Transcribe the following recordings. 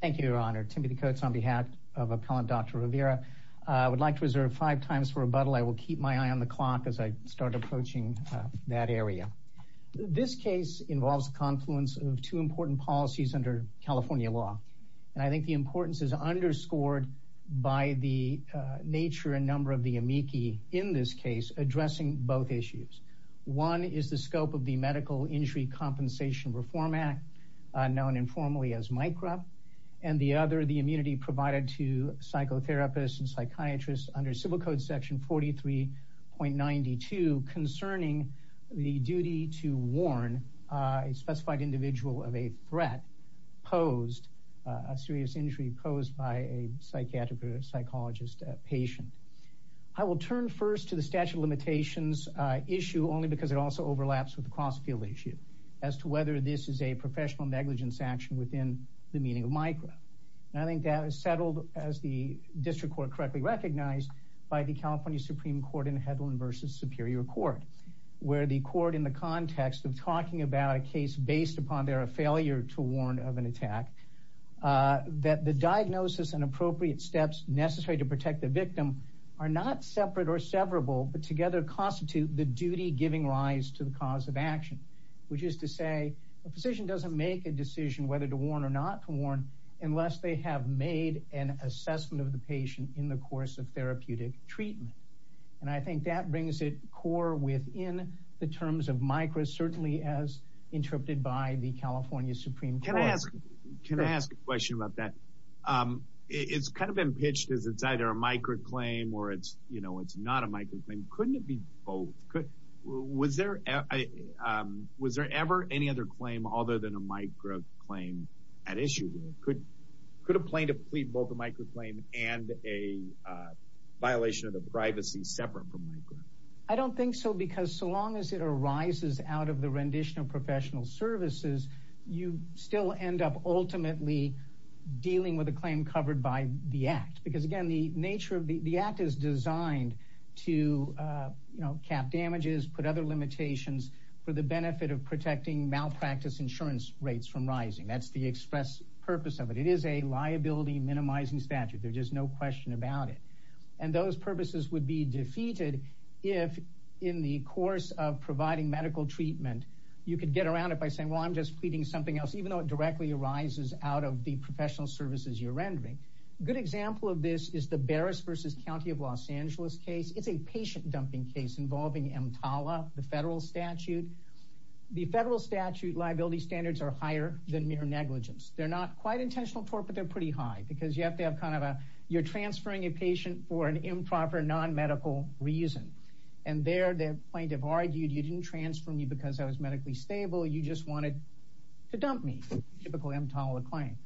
thank you your honor timothy coates on behalf of appellant dr riviera i would like to reserve five times for rebuttal i will keep my eye on the clock as i start approaching that area this case involves confluence of two important policies under california law and i think the importance is underscored by the nature and number of the amici in this case addressing both issues one is the scope of the medical injury compensation reform act known informally as micro and the other the immunity provided to psychotherapists and psychiatrists under civil code section 43.92 concerning the duty to warn a specified individual of a threat posed a serious injury posed by a psychiatric psychologist patient i will turn first to the statute of limitations uh issue only because it also overlaps with the cross field issue as to whether this is a professional negligence action within the meaning of micro and i think that is settled as the district court correctly recognized by the california supreme court in hedlund versus superior court where the court in the context of talking about a case based upon their failure to warn of an attack uh that the diagnosis and appropriate steps necessary to protect the victim are not separate or severable but together constitute the duty giving rise to cause of action which is to say a physician doesn't make a decision whether to warn or not to warn unless they have made an assessment of the patient in the course of therapeutic treatment and i think that brings it core within the terms of micro certainly as interpreted by the california supreme can i ask can i ask a question about that um it's kind of been pitched as it's either a microclaim or it's you know it's not a microclaim couldn't it be both could was there i um was there ever any other claim other than a micro claim at issue could could a plaintiff plead both a microclaim and a violation of the privacy separate from micro i don't think so because so long as it arises out of the rendition of professional services you still end up ultimately dealing with a claim covered by the act because again the nature of the act is to uh you know cap damages put other limitations for the benefit of protecting malpractice insurance rates from rising that's the express purpose of it it is a liability minimizing statute there's just no question about it and those purposes would be defeated if in the course of providing medical treatment you could get around it by saying well i'm just pleading something else even though it directly arises out of the professional services you're rendering good example of this is the barris versus county of los angeles case it's a patient dumping case involving mtala the federal statute the federal statute liability standards are higher than mere negligence they're not quite intentional tort but they're pretty high because you have to have kind of a you're transferring a patient for an improper non-medical reason and there the plaintiff argued you didn't transfer me because i was medically stable you just wanted to dump me typical mtala claim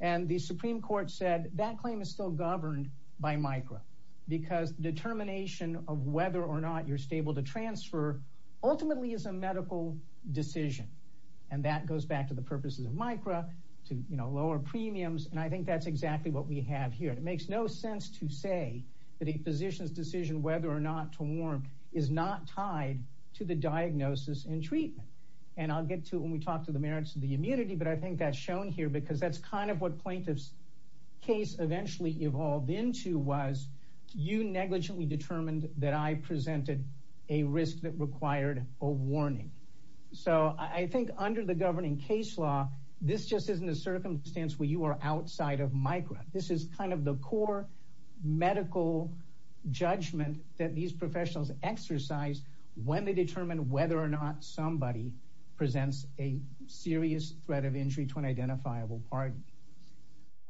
and the supreme court said that claim is still governed by micra because determination of whether or not you're stable to transfer ultimately is a medical decision and that goes back to the purposes of micra to you know lower premiums and i think that's exactly what we have here it makes no sense to say that a physician's decision whether or not to warm is not tied to the diagnosis and treatment and i'll get to when we talk to the merits of the immunity but i think that's shown here because that's kind of what plaintiff's case eventually evolved into was you negligently determined that i presented a risk that required a warning so i think under the governing case law this just isn't a circumstance where you are outside of micra this is kind of the core medical judgment that these professionals exercise when they determine whether or not somebody presents a serious threat of injury to an identifiable party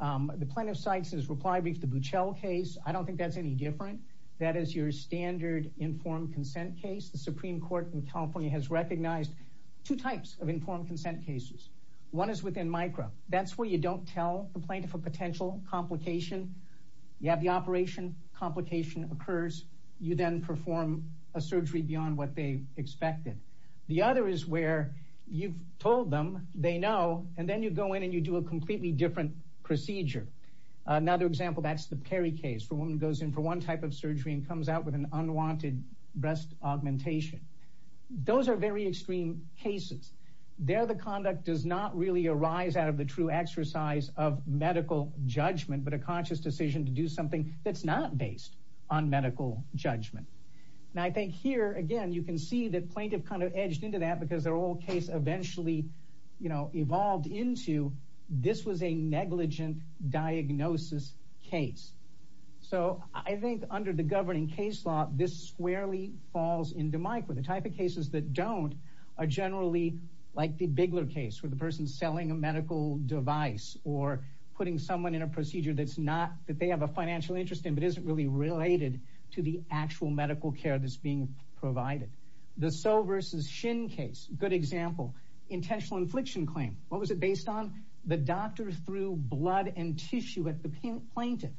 the plaintiff cites his reply brief the buchel case i don't think that's any different that is your standard informed consent case the supreme court in california has recognized two types of informed consent cases one is within micro that's where you don't tell the plaintiff a potential complication you have the operation complication occurs you then perform a surgery beyond what they expected the other is where you've told them they know and then you go in and you do a completely different procedure another example that's the perry case for a woman goes in for one type of surgery and comes out with an unwanted breast augmentation those are very extreme cases there the conduct does not really arise out of the true exercise of medical judgment but a conscious decision to do something that's not based on medical judgment and i think here again you can see that plaintiff kind of edged into that because their old case eventually you know evolved into this was a negligent diagnosis case so i think under the governing case law this squarely falls into micro the type of cases that don't are generally like the bigler case where the person's selling a medical device or putting someone in a procedure that's not that they have a financial interest in but isn't really related to the actual medical care that's being provided the so versus shin case good example intentional infliction claim what was it based on the doctor through blood and tissue at the plaintiff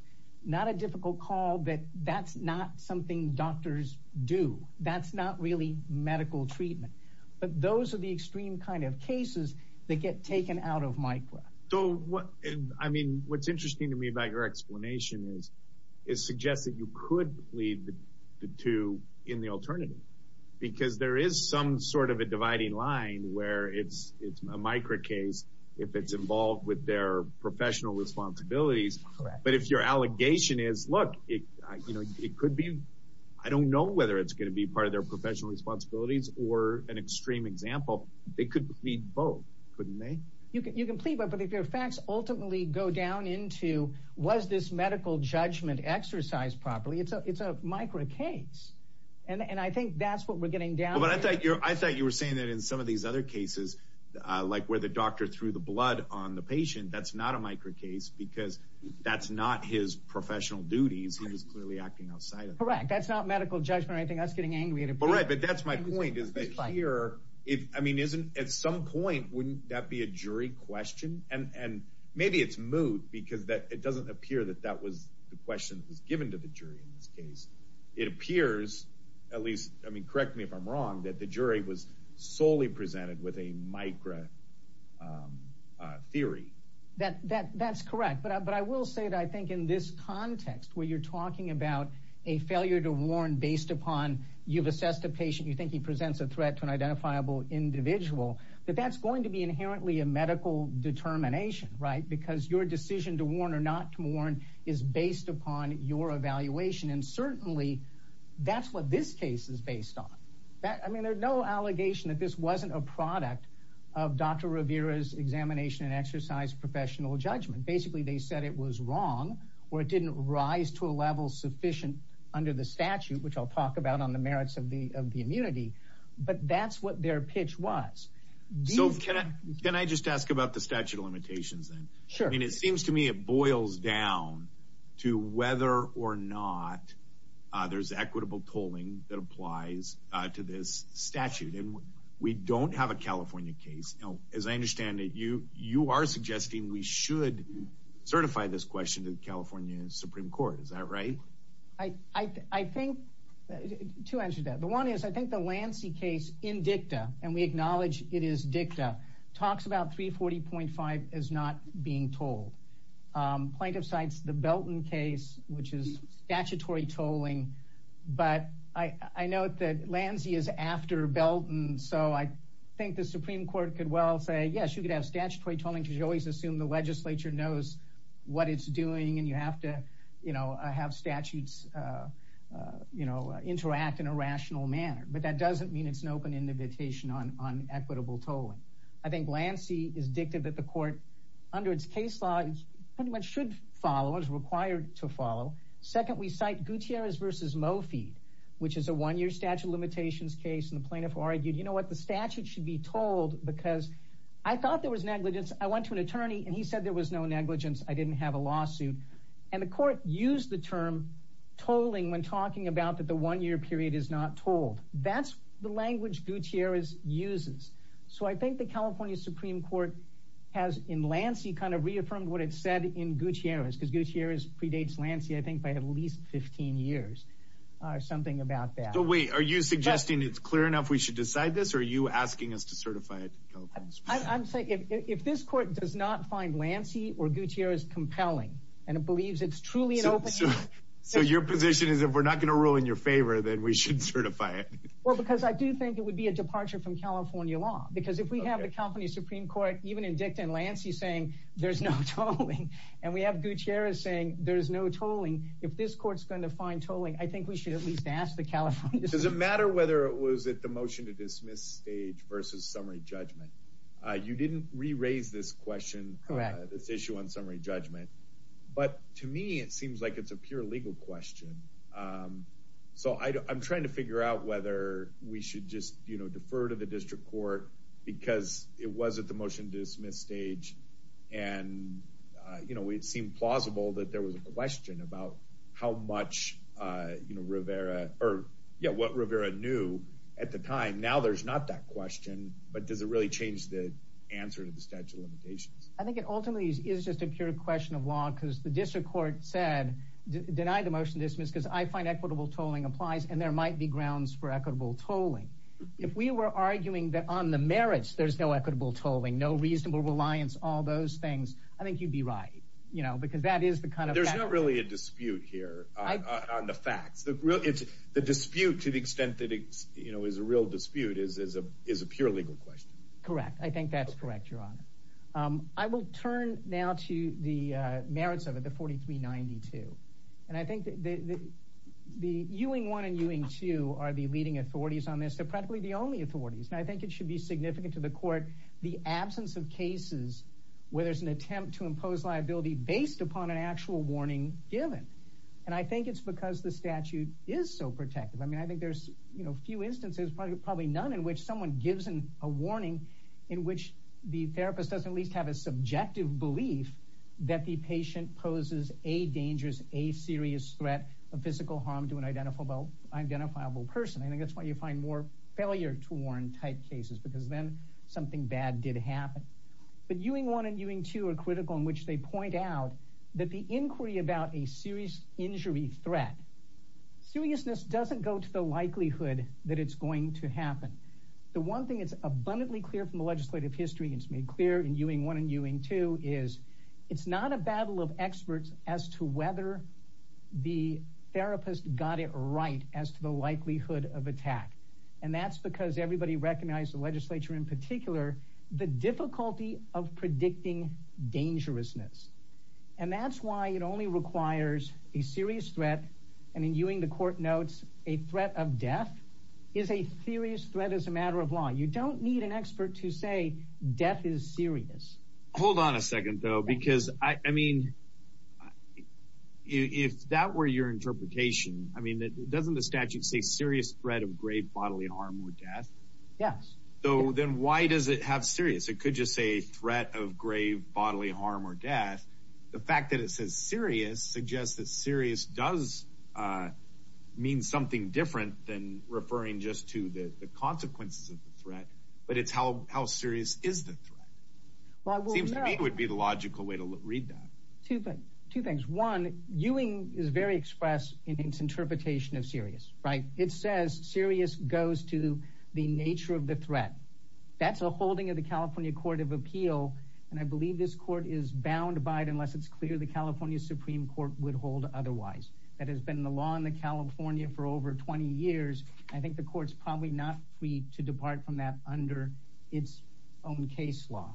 not a difficult call that that's not something doctors do that's not really medical treatment but those are the extreme kind of cases that get taken out of micro so what i mean what's interesting to me about your explanation is it suggests that you could lead the two in the alternative because there is some sort of a dividing line where it's it's a micro case if it's involved with their professional responsibilities but if your allegation is look it you know it could be i don't know whether it's going to be part of their professional responsibilities or an extreme example they could plead both couldn't they you can you can plead but but if your facts ultimately go down into was this medical judgment exercised properly it's a it's a micro case and and i think that's what we're getting down but i thought you're i thought you were saying that in some of these other cases uh like where the doctor threw the blood on the patient that's not a micro case because that's not his professional duties he was clearly acting outside of correct that's not medical judgment or anything that's getting angry but right but that's my point is that here if i mean isn't at some point wouldn't that be a jury question and and maybe it's moot because that it doesn't appear that that was the question that was given to the jury in this case it appears at least i mean correct me if i'm wrong that the jury was solely presented with a micro theory that that that's correct but but i will say that i think in this context where you're talking about a failure to warn based upon you've assessed a patient you think he presents a threat to an identifiable individual that that's going to be inherently a medical determination right because your decision to warn or not to warn is based upon your evaluation and certainly that's what this case is based on that i mean there's no allegation that this wasn't a product of dr revera's examination and exercise professional judgment basically they said it was wrong or it didn't rise to a level sufficient under the statute which i'll talk about on the merits of the of the immunity but that's what their pitch was so can i can i just ask about the statute of limitations then sure i mean it seems to me it boils down to whether or not uh there's equitable tolling that applies uh to this statute and we don't have a california case you know as i understand that you you are suggesting we should certify this question to the california supreme court is that right i i i think two answers that the one is i think lancy case in dicta and we acknowledge it is dicta talks about 340.5 as not being told plaintiff cites the belton case which is statutory tolling but i i note that lancy is after belton so i think the supreme court could well say yes you could have statutory tolling because you always assume the legislature knows what it's doing and you have to you know have statutes uh uh you know interact in a rational manner but that doesn't mean it's an open invitation on on equitable tolling i think lancy is dicta that the court under its case law pretty much should follow as required to follow second we cite gutierrez versus mo feed which is a one-year statute of limitations case and the plaintiff argued you know what the statute should be told because i thought there was negligence i went to an attorney and he said there was no negligence i didn't have a lawsuit and the court used the term tolling when talking about that the one-year period is not told that's the language gutierrez uses so i think the california supreme court has in lancy kind of reaffirmed what it said in gutierrez because gutierrez predates lancy i think by at least 15 years or something about that but wait are you suggesting it's clear enough we should decide this or are you asking us to certify it i'm saying if this court does not find lancy or gutierrez compelling and it believes it's truly an open so your position is if we're not going to rule in your favor then we should certify it well because i do think it would be a departure from california law because if we have the company supreme court even in dicta and lancy saying there's no tolling and we have gutierrez saying there's no tolling if this court's going to find tolling i think we should at least ask the california does it matter whether it was at the motion to dismiss stage versus summary judgment uh you didn't re-raise this question this issue on summary judgment but to me it seems like it's a pure legal question um so i i'm trying to figure out whether we should just you know defer to the district court because it was at the motion to dismiss stage and uh you know it seemed plausible that there was a question about how much uh you know rivera or yeah what rivera knew at the time now there's not that i think it ultimately is just a pure question of law because the district court said denied the motion dismissed because i find equitable tolling applies and there might be grounds for equitable tolling if we were arguing that on the merits there's no equitable tolling no reasonable reliance all those things i think you'd be right you know because that is the kind of there's not really a dispute here on the facts the real it's the dispute to the extent that it's you know is a real dispute is is a is a pure legal question correct i think that's correct um i will turn now to the uh merits of it the 4392 and i think that the the ewing one and ewing two are the leading authorities on this they're practically the only authorities and i think it should be significant to the court the absence of cases where there's an attempt to impose liability based upon an actual warning given and i think it's because the statute is so protective i mean i think there's you know few instances probably none in which someone gives in warning in which the therapist doesn't at least have a subjective belief that the patient poses a dangerous a serious threat of physical harm to an identifiable identifiable person i think that's why you find more failure to warn type cases because then something bad did happen but ewing one and ewing two are critical in which they point out that the inquiry about a serious injury threat seriousness doesn't go to the likelihood that it's going to happen the one thing that's abundantly clear from the legislative history it's made clear in ewing one and ewing two is it's not a battle of experts as to whether the therapist got it right as to the likelihood of attack and that's because everybody recognized the legislature in particular the difficulty of predicting dangerousness and that's why it only requires a serious threat and in ewing the court notes a threat of death is a serious threat as a matter of law you don't need an expert to say death is serious hold on a second though because i i mean if that were your interpretation i mean that doesn't the statute say serious threat of grave bodily harm or death yes so then why does it have serious it could just say threat of grave bodily harm or death the fact that it says serious suggests that serious does uh mean something different than referring just to the the consequences of the threat but it's how how serious is the threat well it seems to me it would be the logical way to read that two but two things one ewing is very expressed in its interpretation of serious right it says serious goes to the nature of the threat that's a holding of the california court of appeal and i believe this court is bound by it unless it's clear the california supreme court would hold otherwise that has been the law in the california for over 20 years i think the court's probably not free to depart from that under its own case law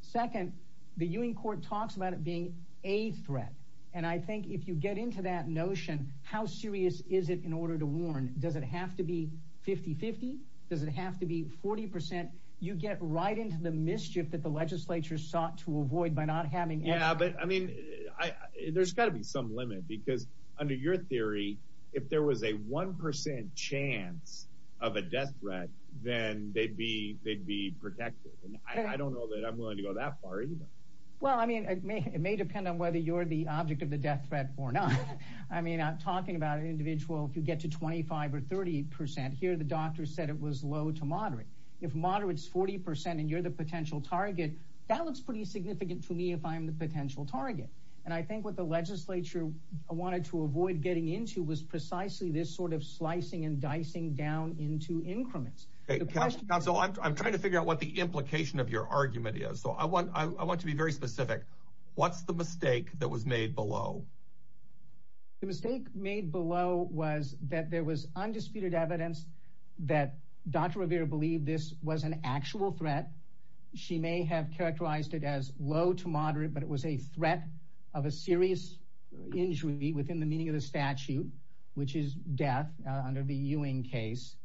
second the ewing court talks about it being a threat and i think if you get into that notion how serious is it in order to warn does it have to be 50 50 does it have to be 40 you get right into the mischief that yeah but i mean i there's got to be some limit because under your theory if there was a one percent chance of a death threat then they'd be they'd be protected and i don't know that i'm willing to go that far either well i mean it may it may depend on whether you're the object of the death threat or not i mean i'm talking about an individual if you get to 25 or 30 here the doctor said it was low to moderate if moderate's 40 and you're the potential target that looks pretty significant to me if i'm the potential target and i think what the legislature wanted to avoid getting into was precisely this sort of slicing and dicing down into increments okay council i'm trying to figure out what the implication of your argument is so i want i want to be very specific what's the mistake that was made below the mistake made below was that there was undisputed evidence that dr revere believed this was an actual threat she may have characterized it as low to moderate but it was a threat of a serious injury within the meaning of the statute which is death under the ewing case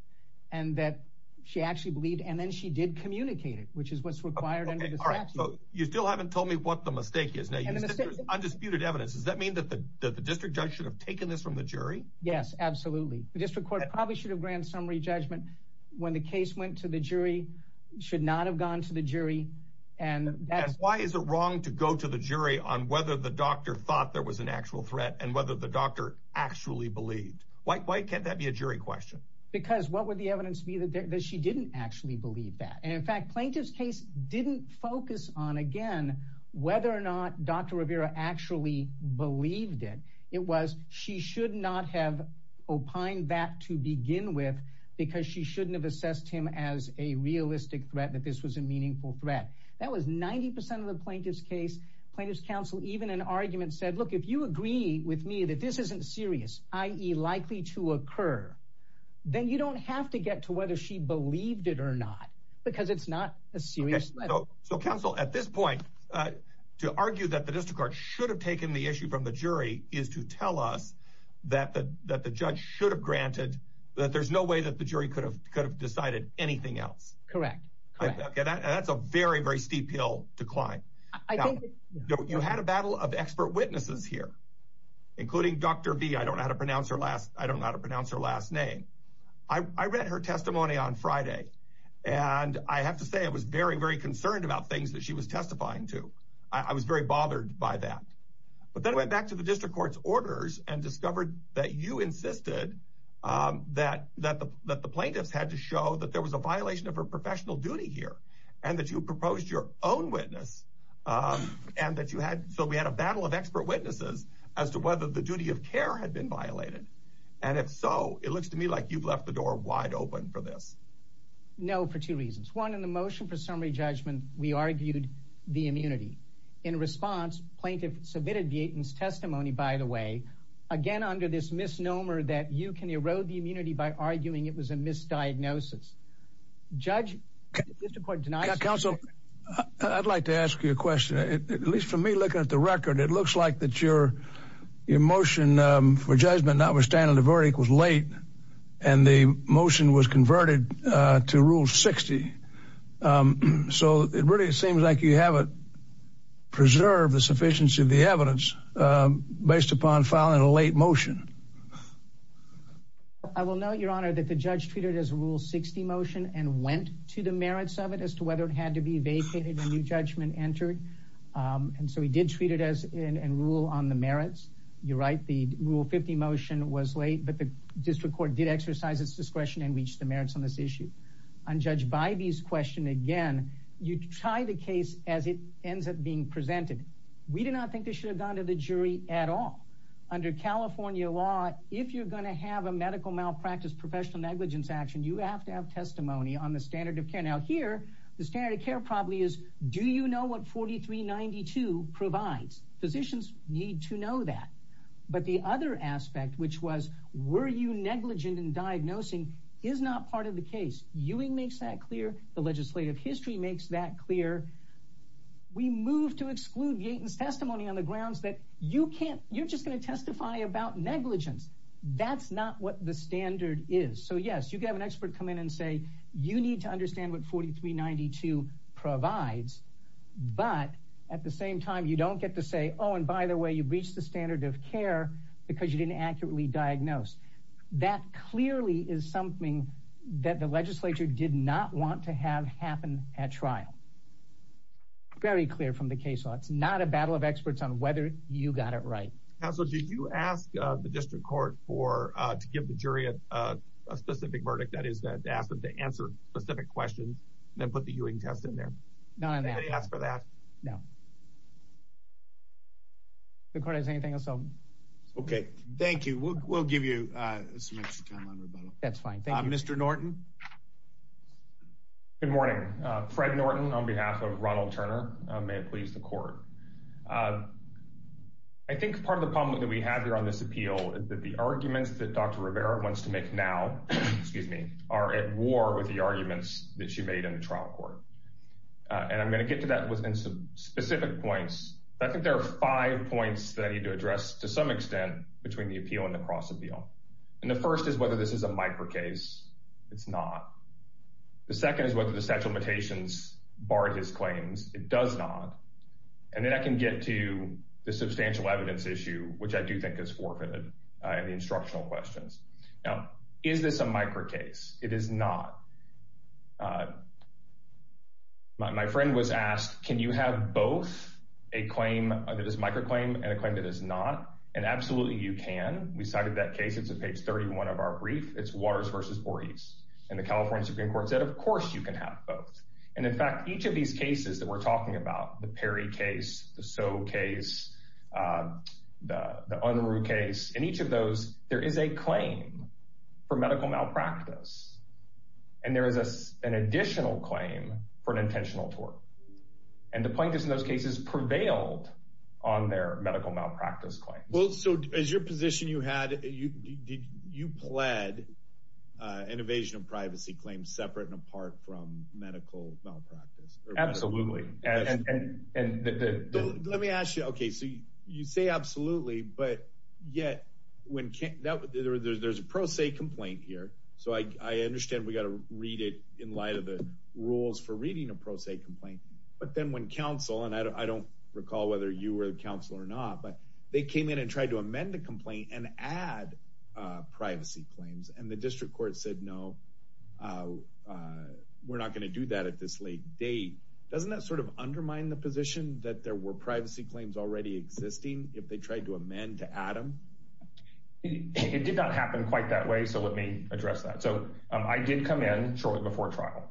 and that she actually believed and then she did communicate it which is what's required all right so you still haven't told me what the mistake is now you said undisputed evidence does that mean that the district judge should have taken this from the jury yes absolutely the district court probably should have granted summary judgment when the why is it wrong to go to the jury on whether the doctor thought there was an actual threat and whether the doctor actually believed why can't that be a jury question because what would the evidence be that she didn't actually believe that and in fact plaintiff's case didn't focus on again whether or not dr revere actually believed it it was she should not have opined that to begin with because she shouldn't have assessed him as a realistic threat that this was a meaningful threat that was 90 of the plaintiff's case plaintiff's counsel even an argument said look if you agree with me that this isn't serious i.e likely to occur then you don't have to get to whether she believed it or not because it's not a serious so counsel at this point uh to argue that the district court should have taken the issue from the jury is to tell us that the that the judge should have granted that there's no way that the jury could have could have decided anything else correct okay that's a very very steep hill decline i think you had a battle of expert witnesses here including dr v i don't know how to pronounce her last i don't know how to pronounce her last name i i read her testimony on friday and i have to say i was very very concerned about things that she was testifying to i was very bothered by that but then i went back to the district court's orders and discovered that you insisted um that that the that the plaintiffs had to show that there was a violation of her professional duty here and that you proposed your own witness um and that you had so we had a battle of expert witnesses as to whether the duty of care had been violated and if so it looks to me like you've left the door wide open for this no for two reasons one in the motion for summary judgment we argued the immunity in response plaintiff submitted the testimony by the way again under this misnomer that you can erode the diagnosis judge district court tonight counsel i'd like to ask you a question at least for me looking at the record it looks like that your your motion um for judgment notwithstanding the verdict was late and the motion was converted uh to rule 60 um so it really seems like you haven't preserved the sufficiency of the evidence um based upon filing a late motion i will note your honor that the judge treated as a rule 60 motion and went to the merits of it as to whether it had to be vacated a new judgment entered um and so he did treat it as in and rule on the merits you're right the rule 50 motion was late but the district court did exercise its discretion and reached the merits on this issue on judge by these question again you try the case as it ends up being presented we did not think they should have gone to the jury at all under california law if you're going to have a medical malpractice professional negligence action you have to have testimony on the standard of care now here the standard of care probably is do you know what 4392 provides physicians need to know that but the other aspect which was were you negligent in diagnosing is not part of the case ewing makes that clear the legislative history makes that clear we move to exclude yaten's testimony on the grounds that you can't you're just going to testify about negligence that's not what the standard is so yes you have an expert come in and say you need to understand what 4392 provides but at the same time you don't get to say oh and by the way you've reached the standard of care because you didn't accurately diagnose that clearly is something that the legislature did not want to have happen at trial very clear from the case law it's not a battle of experts on whether you got it right council do you ask the district court for uh to give the jury a specific verdict that is that to ask them to answer specific questions then put the ewing test in there not ask for that no the court has anything else okay thank you we'll give you uh some extra time on rebuttal that's fine thank you mr norton good morning uh fred norton on behalf of ronald turner may it please the court i think part of the problem that we have here on this appeal is that the arguments that dr rivera wants to make now excuse me are at war with the arguments that she made in the trial court and i'm going to get to that within some specific points i think there are five points that i need to address to some extent between the appeal and the cross appeal and the first is whether this is a micro case it's not the second is whether the statute of limitations barred his claims it does not and then i can get to the substantial evidence issue which i do think is forfeited uh and the instructional questions now is this a micro case it is not uh my friend was asked can you have both a claim that is micro claim and a claim that is not and absolutely you can we cited that case it's on page 31 of our brief it's waters versus boris and the california supreme court said of course you can have both and in fact each of these cases that we're talking about the perry case the so case uh the the unruh case and each of those there is a claim for medical malpractice and there is a an additional claim for an intentional tort and the plaintiffs in those cases prevailed on their medical malpractice claims well so as your position you had you did you pled uh an evasion of privacy claims separate and apart from medical malpractice absolutely and and and let me ask you okay so you say absolutely but yet when there's a pro se complaint here so i i understand we got to read it in light of the rules for reading a pro se complaint but then when council and i don't recall whether you were the council or not but they came in and tried to amend the complaint and add uh privacy claims and the district court said no uh we're not going to do that at this late date doesn't that sort of undermine the position that there were privacy claims already existing if they tried to amend to add them it did not happen quite that way so let me address that so i did come in shortly before trial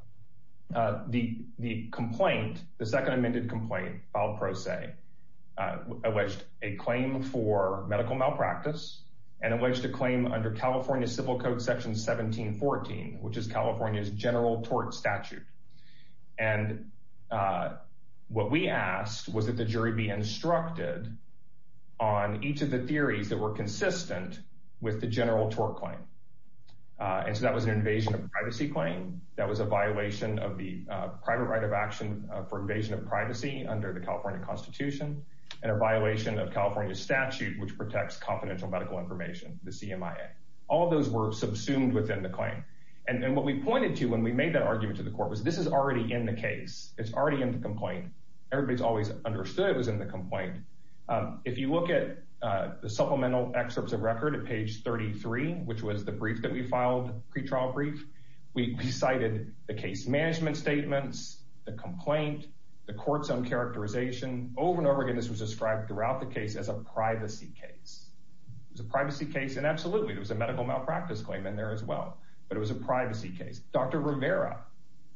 uh the the complaint the second amended complaint filed pro se uh alleged a claim for medical malpractice and alleged to claim under california civil code section 1714 which is california's general tort statute and uh what we asked was that the jury be instructed on each of the theories that were consistent with the general tort claim uh and so that was an invasion of privacy claim that was a violation of the private right of action for invasion of privacy under the california constitution and a violation of california statute which protects confidential medical information the cmia all those were subsumed within the claim and then what we pointed to when we made that argument to the court was this is already in the case it's already in the complaint everybody's always understood it was in the complaint um if you look at uh the supplemental excerpts of record at page 33 which was the brief that we filed pre-trial brief we cited the case management statements the complaint the court's own characterization over and over again this was described throughout the case as a privacy case it was a privacy case and absolutely there was a medical malpractice claim in there as well but it was a privacy case dr rivera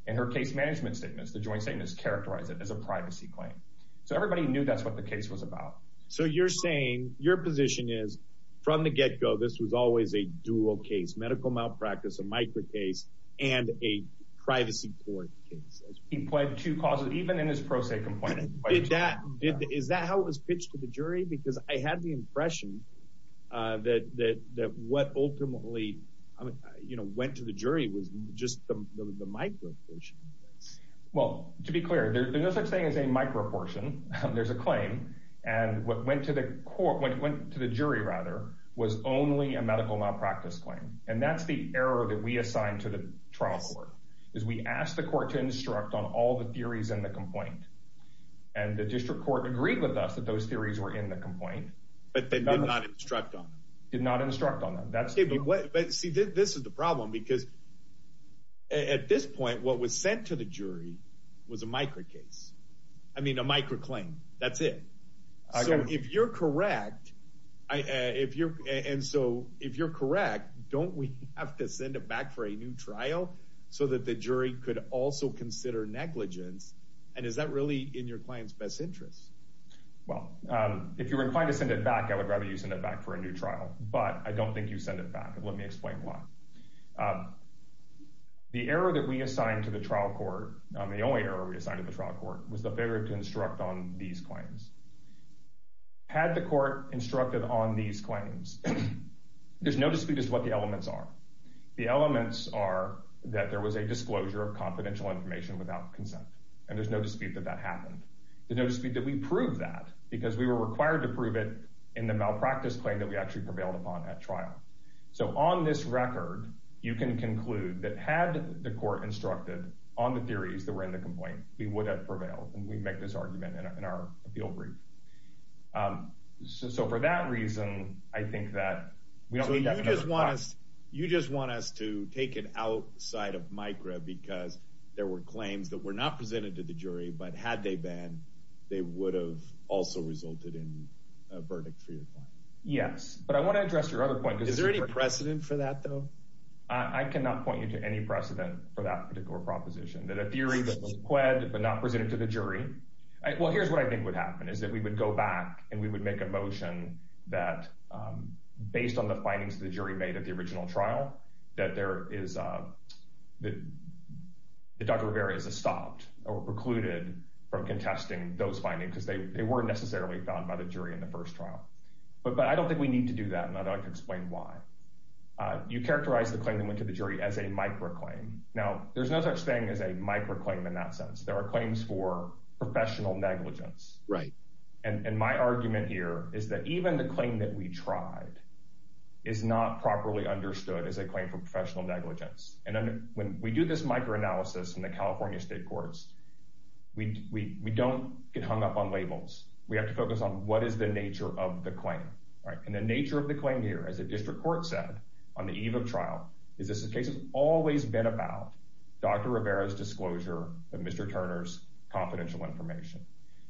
and her case management statements the joint statements characterize it as a privacy claim so everybody knew that's what the case was about so you're saying your position is from the get-go this was always a dual case medical malpractice a micro case and a privacy court case he pled two causes even in his pro se complaint did that did is that was pitched to the jury because i had the impression uh that that that what ultimately you know went to the jury was just the micro portion well to be clear there's no such thing as a micro portion there's a claim and what went to the court went to the jury rather was only a medical malpractice claim and that's the error that we assigned to the trial court is we asked the court to instruct on all the theories in the complaint and the district court agreed with us that those theories were in the complaint but they did not instruct on did not instruct on them that's what but see this is the problem because at this point what was sent to the jury was a micro case i mean a micro claim that's it so if you're correct i if you're and so if you're correct don't we have to send it back for a new so that the jury could also consider negligence and is that really in your client's best interest well um if you're inclined to send it back i would rather you send it back for a new trial but i don't think you send it back let me explain why the error that we assigned to the trial court the only error we assigned to the trial court was the failure to instruct on these claims had the court instructed on these claims there's no dispute as to what the elements are the elements are that there was a disclosure of confidential information without consent and there's no dispute that that happened there's no dispute that we proved that because we were required to prove it in the malpractice claim that we actually prevailed upon at trial so on this record you can conclude that had the court instructed on the theories that were in the complaint we would have prevailed and we make this argument in our appeal brief um so for that reason i think that so you just want us you just want us to take it outside of micra because there were claims that were not presented to the jury but had they been they would have also resulted in a verdict for your client yes but i want to address your other point is there any precedent for that though i cannot point you to any precedent for that particular proposition that a theory that was qued but not presented to the jury well here's what i think would happen is that we would go back and we would make a motion that um based on the findings of the jury made at the original trial that there is uh that that dr rivera is a stopped or precluded from contesting those findings because they weren't necessarily found by the jury in the first trial but but i don't think we need to do that and i'd like to explain why uh you characterize the claim that went to the jury as a micro claim now there's no such thing as a micro claim in that sense there are claims for professional negligence right and and my argument here is that even the claim that we tried is not properly understood as a claim for professional negligence and then when we do this micro analysis in the california state courts we we we don't get hung up on labels we have to focus on what is the nature of the claim right and the nature of the claim here as a district court said on the eve of trial is this case has always been about dr rivera's confidential information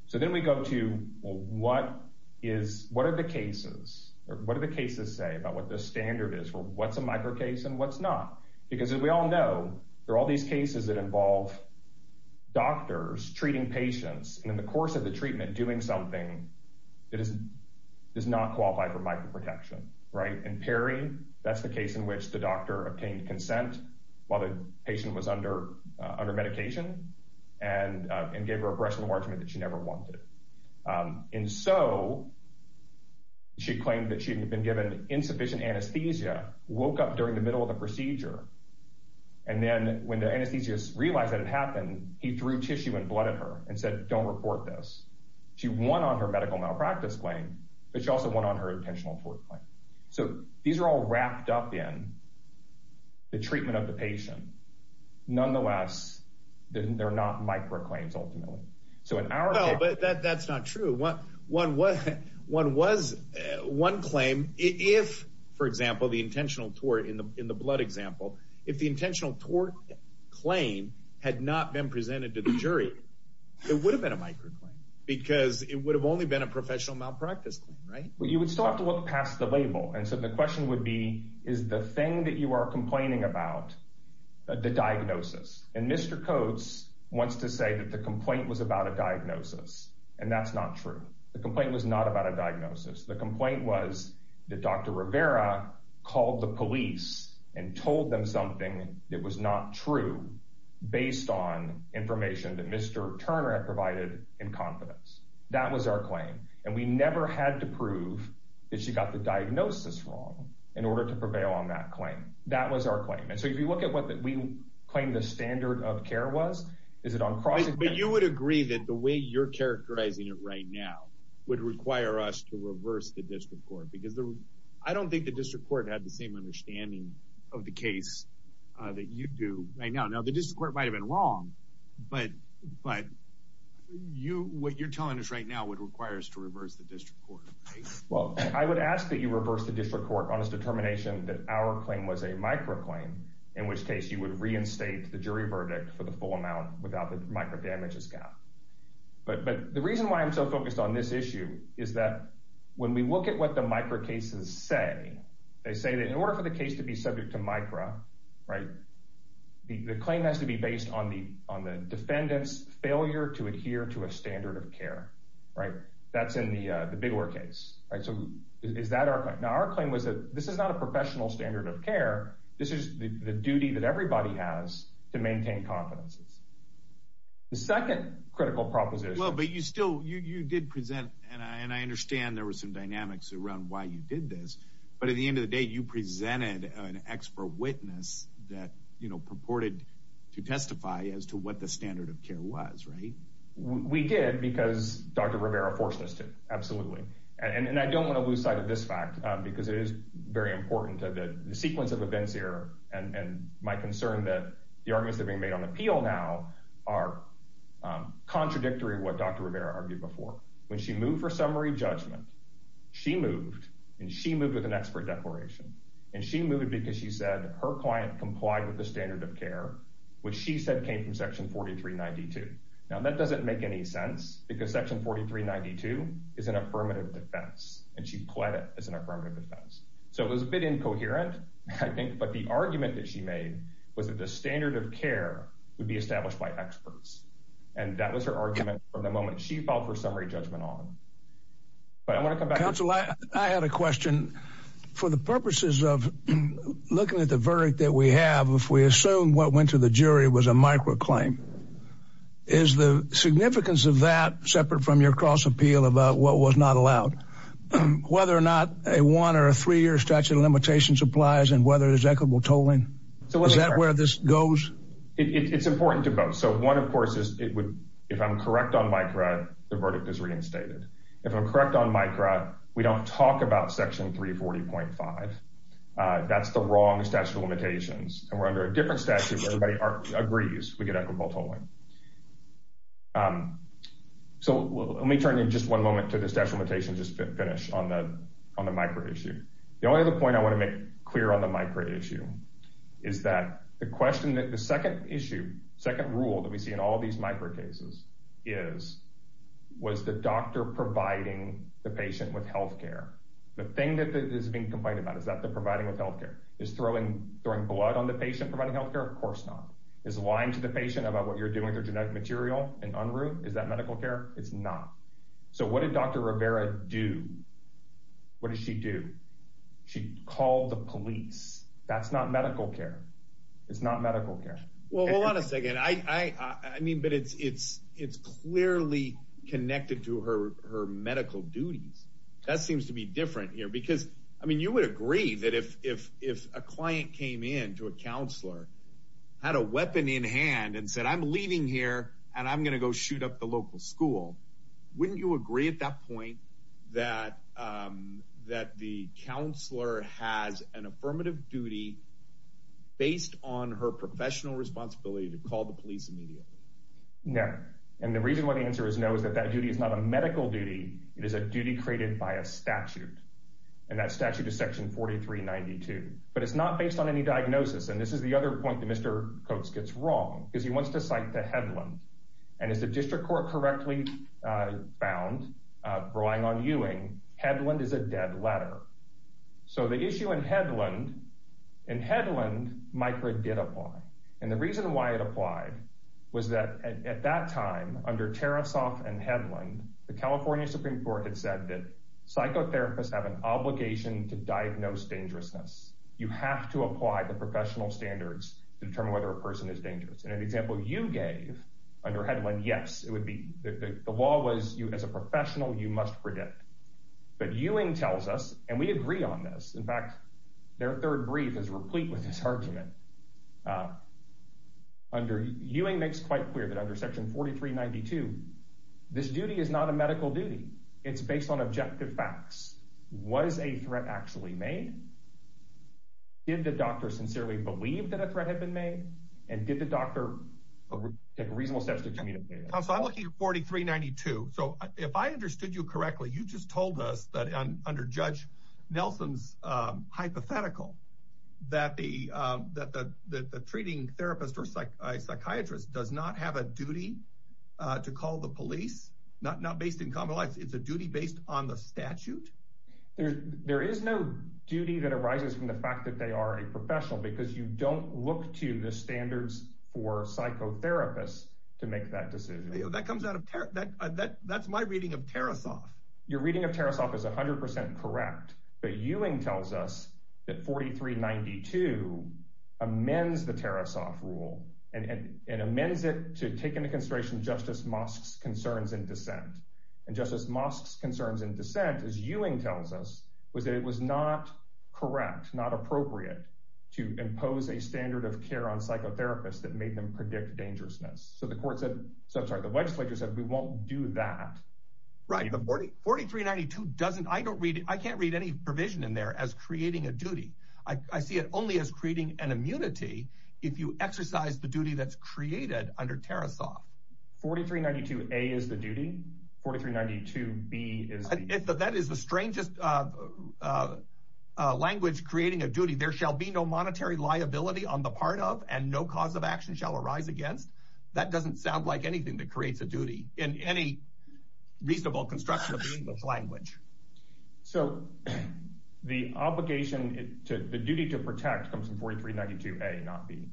so then we go to what is what are the cases or what do the cases say about what the standard is for what's a micro case and what's not because we all know there are all these cases that involve doctors treating patients and in the course of the treatment doing something that is does not qualify for micro protection right and perry that's the case in which the doctor obtained consent while the patient was under uh under medication and uh and gave her a brush enlargement that she never wanted um and so she claimed that she had been given insufficient anesthesia woke up during the middle of the procedure and then when the anesthetist realized that it happened he threw tissue and blood at her and said don't report this she won on her medical malpractice claim but she also went on her intentional tort claim so these are all wrapped up in the treatment of the patient nonetheless they're not micro claims ultimately so in our but that's not true what one was one was one claim if for example the intentional tort in the in the blood example if the intentional tort claim had not been presented to the jury it would have been a microclaim because it would have only been a professional malpractice claim right well you would still have to look past the label and so the question would be is the thing that you are complaining about the diagnosis and mr coates wants to say that the complaint was about a diagnosis and that's not true the complaint was not about a diagnosis the complaint was that dr rivera called the police and told them something that was not true based on information that mr turner had provided in confidence that was our claim and we never had to prove that she got the diagnosis wrong in order to prevail on that claim that was our claim and so if you look at what that we claimed the standard of care was is it on crossing but you would agree that the way you're characterizing it right now would require us to reverse the district court because the i don't think the district court had the same understanding of the case uh that you do right now now the district court might have been wrong but but you what you're telling us right now would require us to reverse the district court well i would ask that you reverse the district court on its determination that our claim was a microclaim in which case you would reinstate the jury verdict for the full amount without the micro damages gap but but the reason why i'm so focused on this issue is that when we look at the micro cases say they say that in order for the case to be subject to micro right the claim has to be based on the on the defendant's failure to adhere to a standard of care right that's in the uh the bigler case right so is that our claim now our claim was that this is not a professional standard of care this is the duty that everybody has to maintain confidences the second critical proposition well but you still you you did present and i and i understand there were some dynamics around why you did this but at the end of the day you presented an expert witness that you know purported to testify as to what the standard of care was right we did because dr rivera forced us to absolutely and i don't want to lose sight of this fact because it is very important that the sequence of events here and and my concern that the arguments are being made on appeal now are contradictory what dr rivera argued before when she moved for summary judgment she moved and she moved with an expert declaration and she moved because she said her client complied with the standard of care which she said came from section 4392 now that doesn't make any sense because section 4392 is an affirmative defense and she pled it as an affirmative defense so it was a bit incoherent i think but the argument that she made was that the standard of care would be established by experts and that was her argument from the moment she filed for summary judgment on but i want to come back council i i had a question for the purposes of looking at the verdict that we have if we assume what went to the jury was a microclaim is the significance of that separate from your cross appeal about what was not allowed whether or not a one or a three-year statute of limitations applies and whether it is equitable tolling so is that where this goes it's important to vote so one of course is it would if i'm correct on micra the verdict is reinstated if i'm correct on micra we don't talk about section 340.5 uh that's the wrong statute of limitations and we're under a different statute everybody agrees we get equitable tolling um so let me turn in just one moment to the special limitations just finish on the on the micro issue the only other point i want to make clear on the micro issue is that the question that the second issue second rule that we see in all these micro cases is was the doctor providing the patient with health care the thing that is being complained about is that they're providing with health care is throwing throwing blood on the patient providing health care of course not is lying to the patient about what you're doing through genetic material and unruh is that medical care it's not so what did dr rivera do what did she do she called the police that's not medical care it's not medical care well hold on a second i i i mean but it's it's it's clearly connected to her her medical duties that seems to be different here because i mean you would agree that if if if a client came in to a counselor had a weapon in hand and said i'm leaving here and i'm going to go shoot up the local school wouldn't you agree at that point that um that the counselor has an affirmative duty based on her professional responsibility to call the police immediately no and the reason why the answer is no is that that duty is not a medical duty it is a duty created by a statute and that statute is section 4392 but it's not based on any diagnosis and this is the other point that mr coates gets wrong because he wants to cite the headland and as the district court correctly found relying on ewing headland is a dead letter so the issue in headland in headland micro did apply and the reason why it applied was that at that time under tariff soft and headland the california supreme court had said that psychotherapists have an obligation to diagnose dangerousness you have to apply the professional standards to determine whether a person is dangerous in an example you gave under headland yes it would be the law was you as a professional you must predict but ewing tells us and we agree on this in fact their third brief is replete with this argument under ewing makes quite clear that under section 4392 this duty is not a medical duty it's based on objective facts what is a threat actually made did the doctor sincerely believe that a threat had been made and did the doctor take reasonable steps to communicate so i'm looking at 4392 so if i understood you correctly you just told us that under judge nelson's um hypothetical that the um that the the treating therapist or psychiatrist does not have a duty uh to call the police not not based in common life it's a duty based on the statute there there is no duty that arises from the fact that they are a professional because you don't look to the standards for psychotherapists to make that decision that comes out of that that that's my reading of tariff soft your reading of tariff soft is 100 correct but ewing tells us that 4392 amends the tariff soft rule and and amends it to take into consideration justice mosk's concerns in dissent and justice mosk's concerns in dissent as ewing tells us was that it was not correct not appropriate to impose a standard of care on psychotherapists that made them predict dangerousness so the court said so i'm sorry the legislature said we won't do that right the 40 4392 doesn't i don't read it i can't read any provision in there as creating a duty i see it only as creating an immunity if you exercise the duty that's created under tariff soft 4392 a is the duty 4392 b is if that is the strangest uh uh language creating a duty there shall be no monetary liability on the part of and no cause of action shall arise against that reasonable construction of the english language so the obligation to the duty to protect comes from 4392 a not b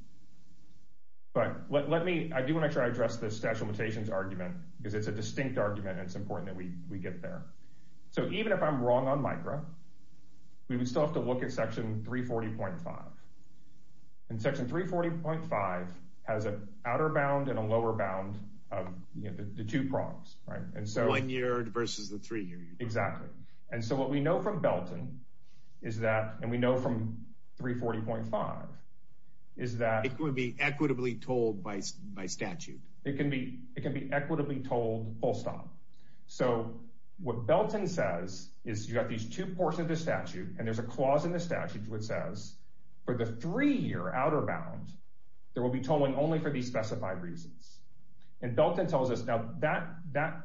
but let me i do want to try to address this special mutations argument because it's a distinct argument and it's important that we we get there so even if i'm wrong on micro we would still have to look at section 340.5 and section 340.5 has an outer bound and a lower bound of you know the two prongs right and so one year versus the three year exactly and so what we know from belton is that and we know from 340.5 is that it would be equitably told by by statute it can be it can be equitably told full stop so what belton says is you got these two ports of the statute and there's a clause in the statute which says for the three-year outer bound there will be tolling only for these specified reasons and belton tells us now that that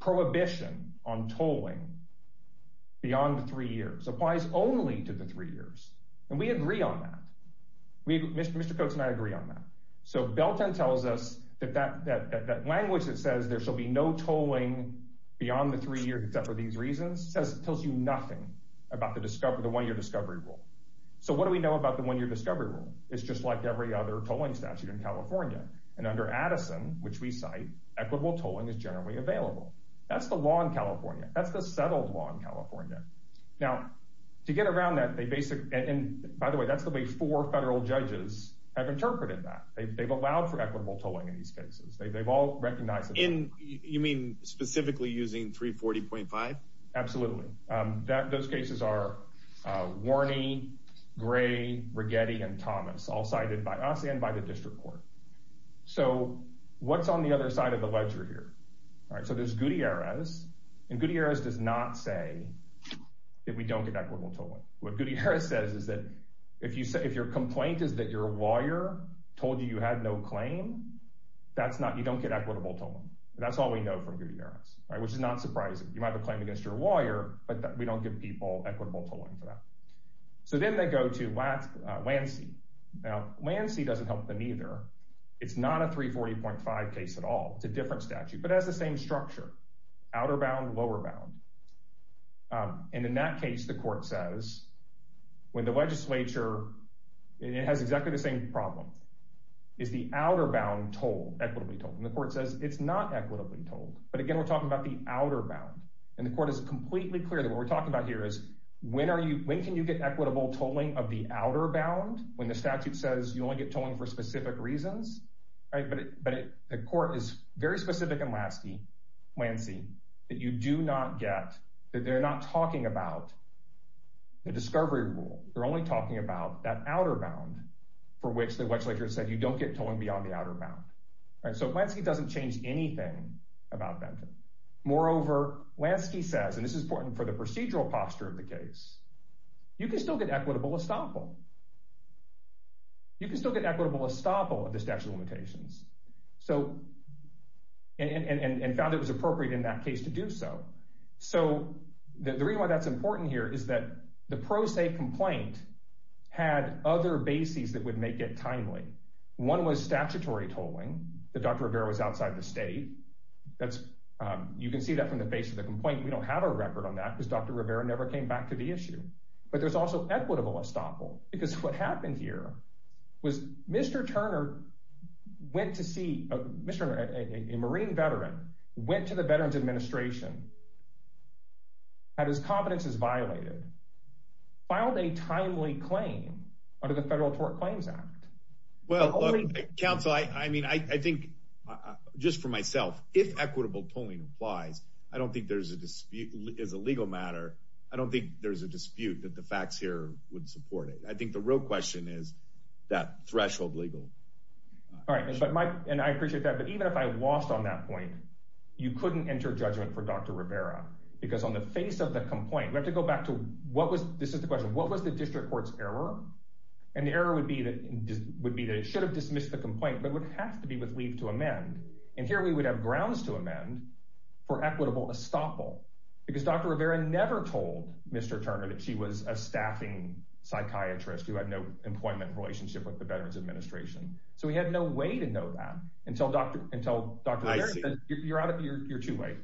prohibition on tolling beyond the three years applies only to the three years and we agree on that we mr coach and i agree on that so belton tells us that that that language that says there shall be no tolling beyond the three years except for these reasons says it tells you nothing about the discovery the one-year discovery rule so what do we know about the one-year discovery rule it's just like every other tolling statute in california and under addison which we cite equitable tolling is generally available that's the law in california that's the settled law in california now to get around that they basically and by the way that's the way four federal judges have interpreted that they've allowed for equitable tolling in these cases they've all recognized in you mean specifically using 340.5 absolutely um that those cases are uh warney gray rigetti and thomas all cited by us and by the district court so what's on the other side of the ledger here all right so there's gutierrez and gutierrez does not say that we don't get equitable tolling what gutierrez says is that if you say if your complaint is that your lawyer told you you had no claim that's not you don't get equitable tolling that's all we know from gutierrez all right which is not surprising you might have a claim against your lawyer but we don't give people equitable tolling for that so then they go to lancey now lancey doesn't help them either it's not a 340.5 case at all it's a different statute but it has the same structure outer bound lower bound and in that case the court says when the legislature it has exactly the same problem is the outer bound toll equitably told and the court says it's not equitably told but again we're talking about the outer bound and the court is completely clear that what we're talking about here is when are you when can you get equitable tolling of the outer bound when the statute says you only get tolling for specific reasons right but but the court is very specific and lasty lancy that you do not get that they're not talking about the discovery rule they're only talking about that outer bound for which the legislature said you don't get tolling beyond the outer bound all right so lansky doesn't change anything about that moreover lansky says and this is important for the procedural posture of the case you can still get equitable estoppel you can still get equitable estoppel of the statute of limitations so and and found it was appropriate in that case to do so so the reason why that's important here is that the had other bases that would make it timely one was statutory tolling that dr rivera was outside the state that's um you can see that from the base of the complaint we don't have a record on that because dr rivera never came back to the issue but there's also equitable estoppel because what happened here was mr turner went to see a mr a marine veteran went to the veterans administration had his confidence is violated filed a timely claim under the federal tort claims act well council i i mean i i think just for myself if equitable tolling applies i don't think there's a dispute as a legal matter i don't think there's a dispute that the facts here would support it i think the real question is that threshold legal all right and i appreciate that but even if i because on the face of the complaint we have to go back to what was this is the question what was the district court's error and the error would be that would be that it should have dismissed the complaint but would have to be with leave to amend and here we would have grounds to amend for equitable estoppel because dr rivera never told mr turner that she was a staffing psychiatrist who had no employment relationship with the veterans administration so we had no to know that until dr until dr you're out of your your two-way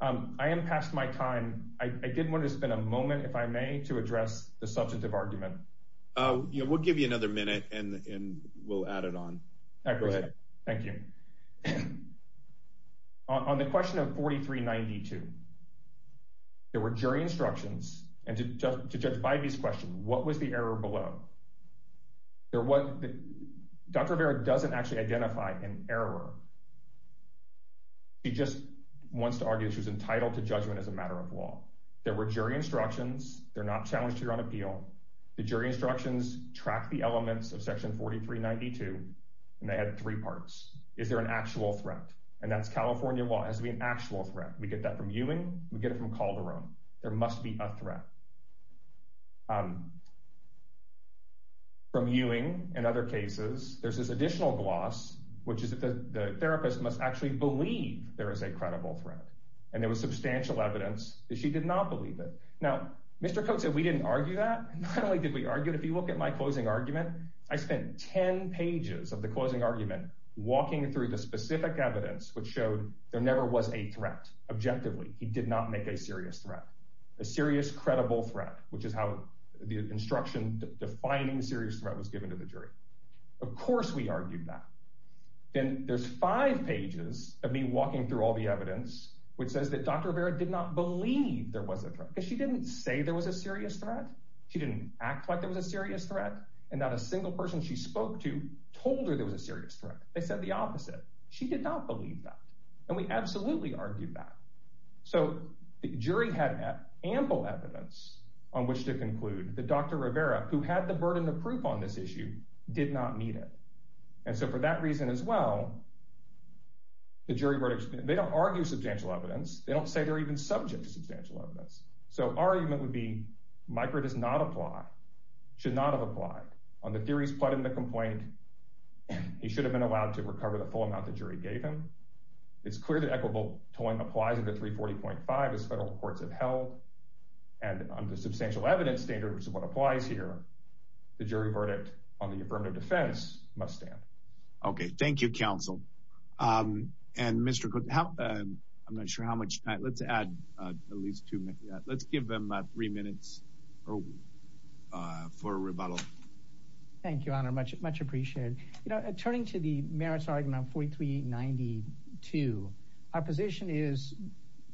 um i am past my time i i did want to spend a moment if i may to address the substantive argument oh yeah we'll give you another minute and and we'll add it on thank you on the question of 43 92 there were jury instructions and to judge by these questions what was the error below there what dr vera doesn't actually identify an error she just wants to argue she was entitled to judgment as a matter of law there were jury instructions they're not challenged here on appeal the jury instructions track the elements of section 43 92 and they had three parts is there an actual threat and that's california law has to be an actual threat we get that from ewing we get it from calderon there must be a threat um from ewing in other cases there's this additional gloss which is that the therapist must actually believe there is a credible threat and there was substantial evidence that she did not believe it now mr coat said we didn't argue that not only did we argue if you look at my closing argument i spent 10 pages of the closing argument walking through the specific evidence which showed there never was a threat objectively he did not make a serious threat a serious credible threat which is how the instruction defining serious threat was given to the jury of course we argued that then there's five pages of me walking through all the evidence which says that dr vera did not believe there was a threat because she didn't say there was a serious threat she didn't act like there was a serious threat and not a single person she spoke to told her there was a serious threat they said the opposite she did not believe that and we absolutely argued that so the jury had ample evidence on which to conclude that dr rivera who had the burden of proof on this issue did not need it and so for that reason as well the jury verdict they don't argue substantial evidence they don't say they're even subject to substantial evidence so our argument would be michael does not apply should not have applied on the theories plotted in the complaint he should have been allowed to recover the full amount the jury gave him it's clear that equitable towing applies under 340.5 as federal courts have held and under substantial evidence standards of what applies here the jury verdict on the affirmative defense must stand okay thank you counsel um and mr how i'm not sure how much let's add at least two minutes let's give them three minutes or uh for a rebuttal thank you honor much much appreciated you know turning to the merits argument 4392 our position is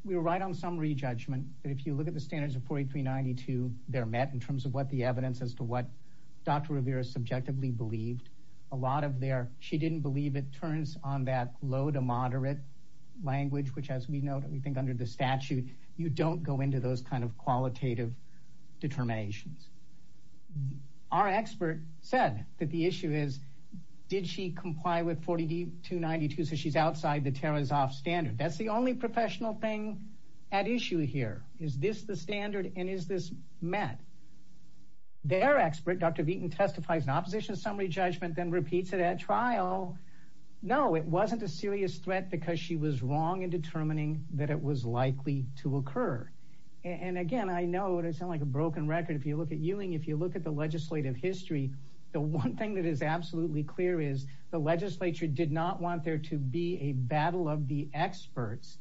we were right on summary judgment but if you look at the standards of 4392 they're met in terms of what the evidence as to what dr rivera subjectively believed a lot of their she didn't believe it language which as we know that we think under the statute you don't go into those kind of qualitative determinations our expert said that the issue is did she comply with 40d 292 so she's outside the terra's off standard that's the only professional thing at issue here is this the standard and is this met their expert dr veeton testifies in opposition summary judgment then wasn't a serious threat because she was wrong in determining that it was likely to occur and again i know what i sound like a broken record if you look at ewing if you look at the legislative history the one thing that is absolutely clear is the legislature did not want there to be a battle of the experts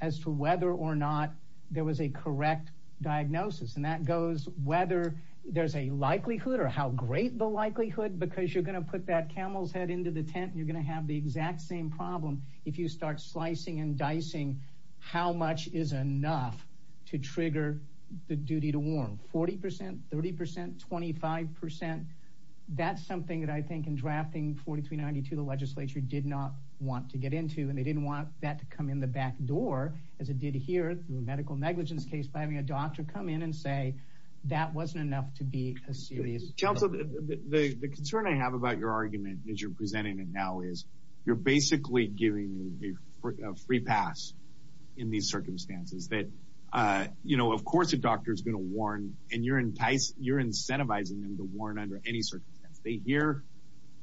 as to whether or not there was a correct diagnosis and that goes whether there's a likelihood or how great the likelihood because you're going to put that camel's head into the same problem if you start slicing and dicing how much is enough to trigger the duty to warn forty percent thirty percent twenty five percent that's something that i think in drafting 4392 the legislature did not want to get into and they didn't want that to come in the back door as it did here through a medical negligence case by having a doctor come in and say that wasn't enough to be a serious council the the concern i have about your argument that you're presenting it now is you're basically giving me a free pass in these circumstances that uh you know of course a doctor is going to warn and you're enticing you're incentivizing them to warn under any circumstance they hear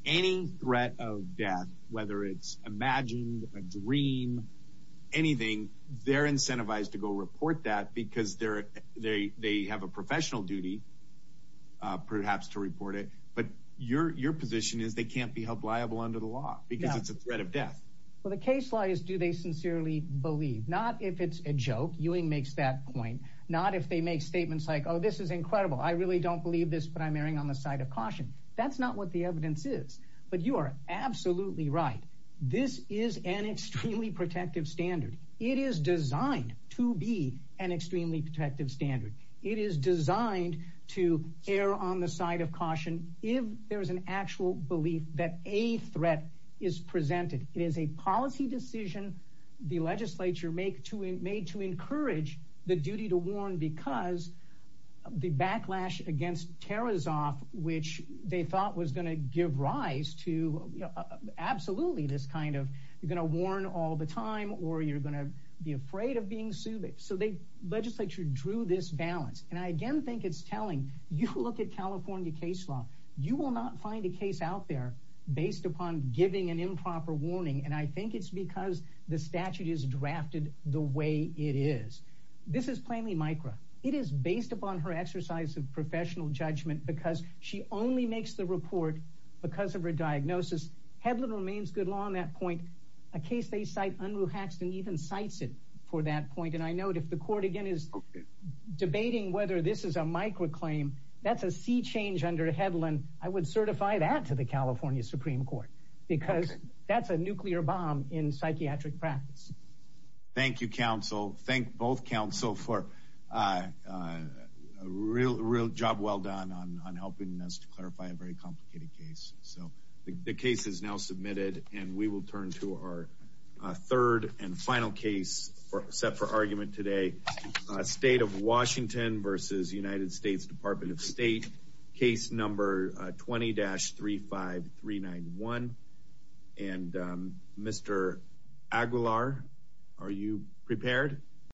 any threat of death whether it's imagined a dream anything they're incentivized to go report that because they're they they have a professional duty uh perhaps to report it but your your position is they can't be held liable under the law because it's a threat of death well the case law is do they sincerely believe not if it's a joke ewing makes that point not if they make statements like oh this is incredible i really don't believe this but i'm erring on the side of caution that's not what the evidence is but you are absolutely right this is an extremely protective standard it is designed to be an extremely protective standard it is designed to err on the side of caution if there is an actual belief that a threat is presented it is a policy decision the legislature make to it made to encourage the duty to warn because the backlash against terra's off which they thought was going to give rise to absolutely this kind of you're going to warn all the time or you're going to be afraid being sued so they legislature drew this balance and i again think it's telling you look at california case law you will not find a case out there based upon giving an improper warning and i think it's because the statute is drafted the way it is this is plainly micra it is based upon her exercise of professional judgment because she only makes the report because of her diagnosis headland remains good law on that point a case they cite unruh haxton even cites it for that point and i note if the court again is debating whether this is a microclaim that's a sea change under headland i would certify that to the california supreme court because that's a nuclear bomb in psychiatric practice thank you counsel thank both counsel for uh a real real well done on helping us to clarify a very complicated case so the case is now submitted and we will turn to our third and final case for set for argument today state of washington versus united states department of state case number 20-35391 and um mr aguilar are you prepared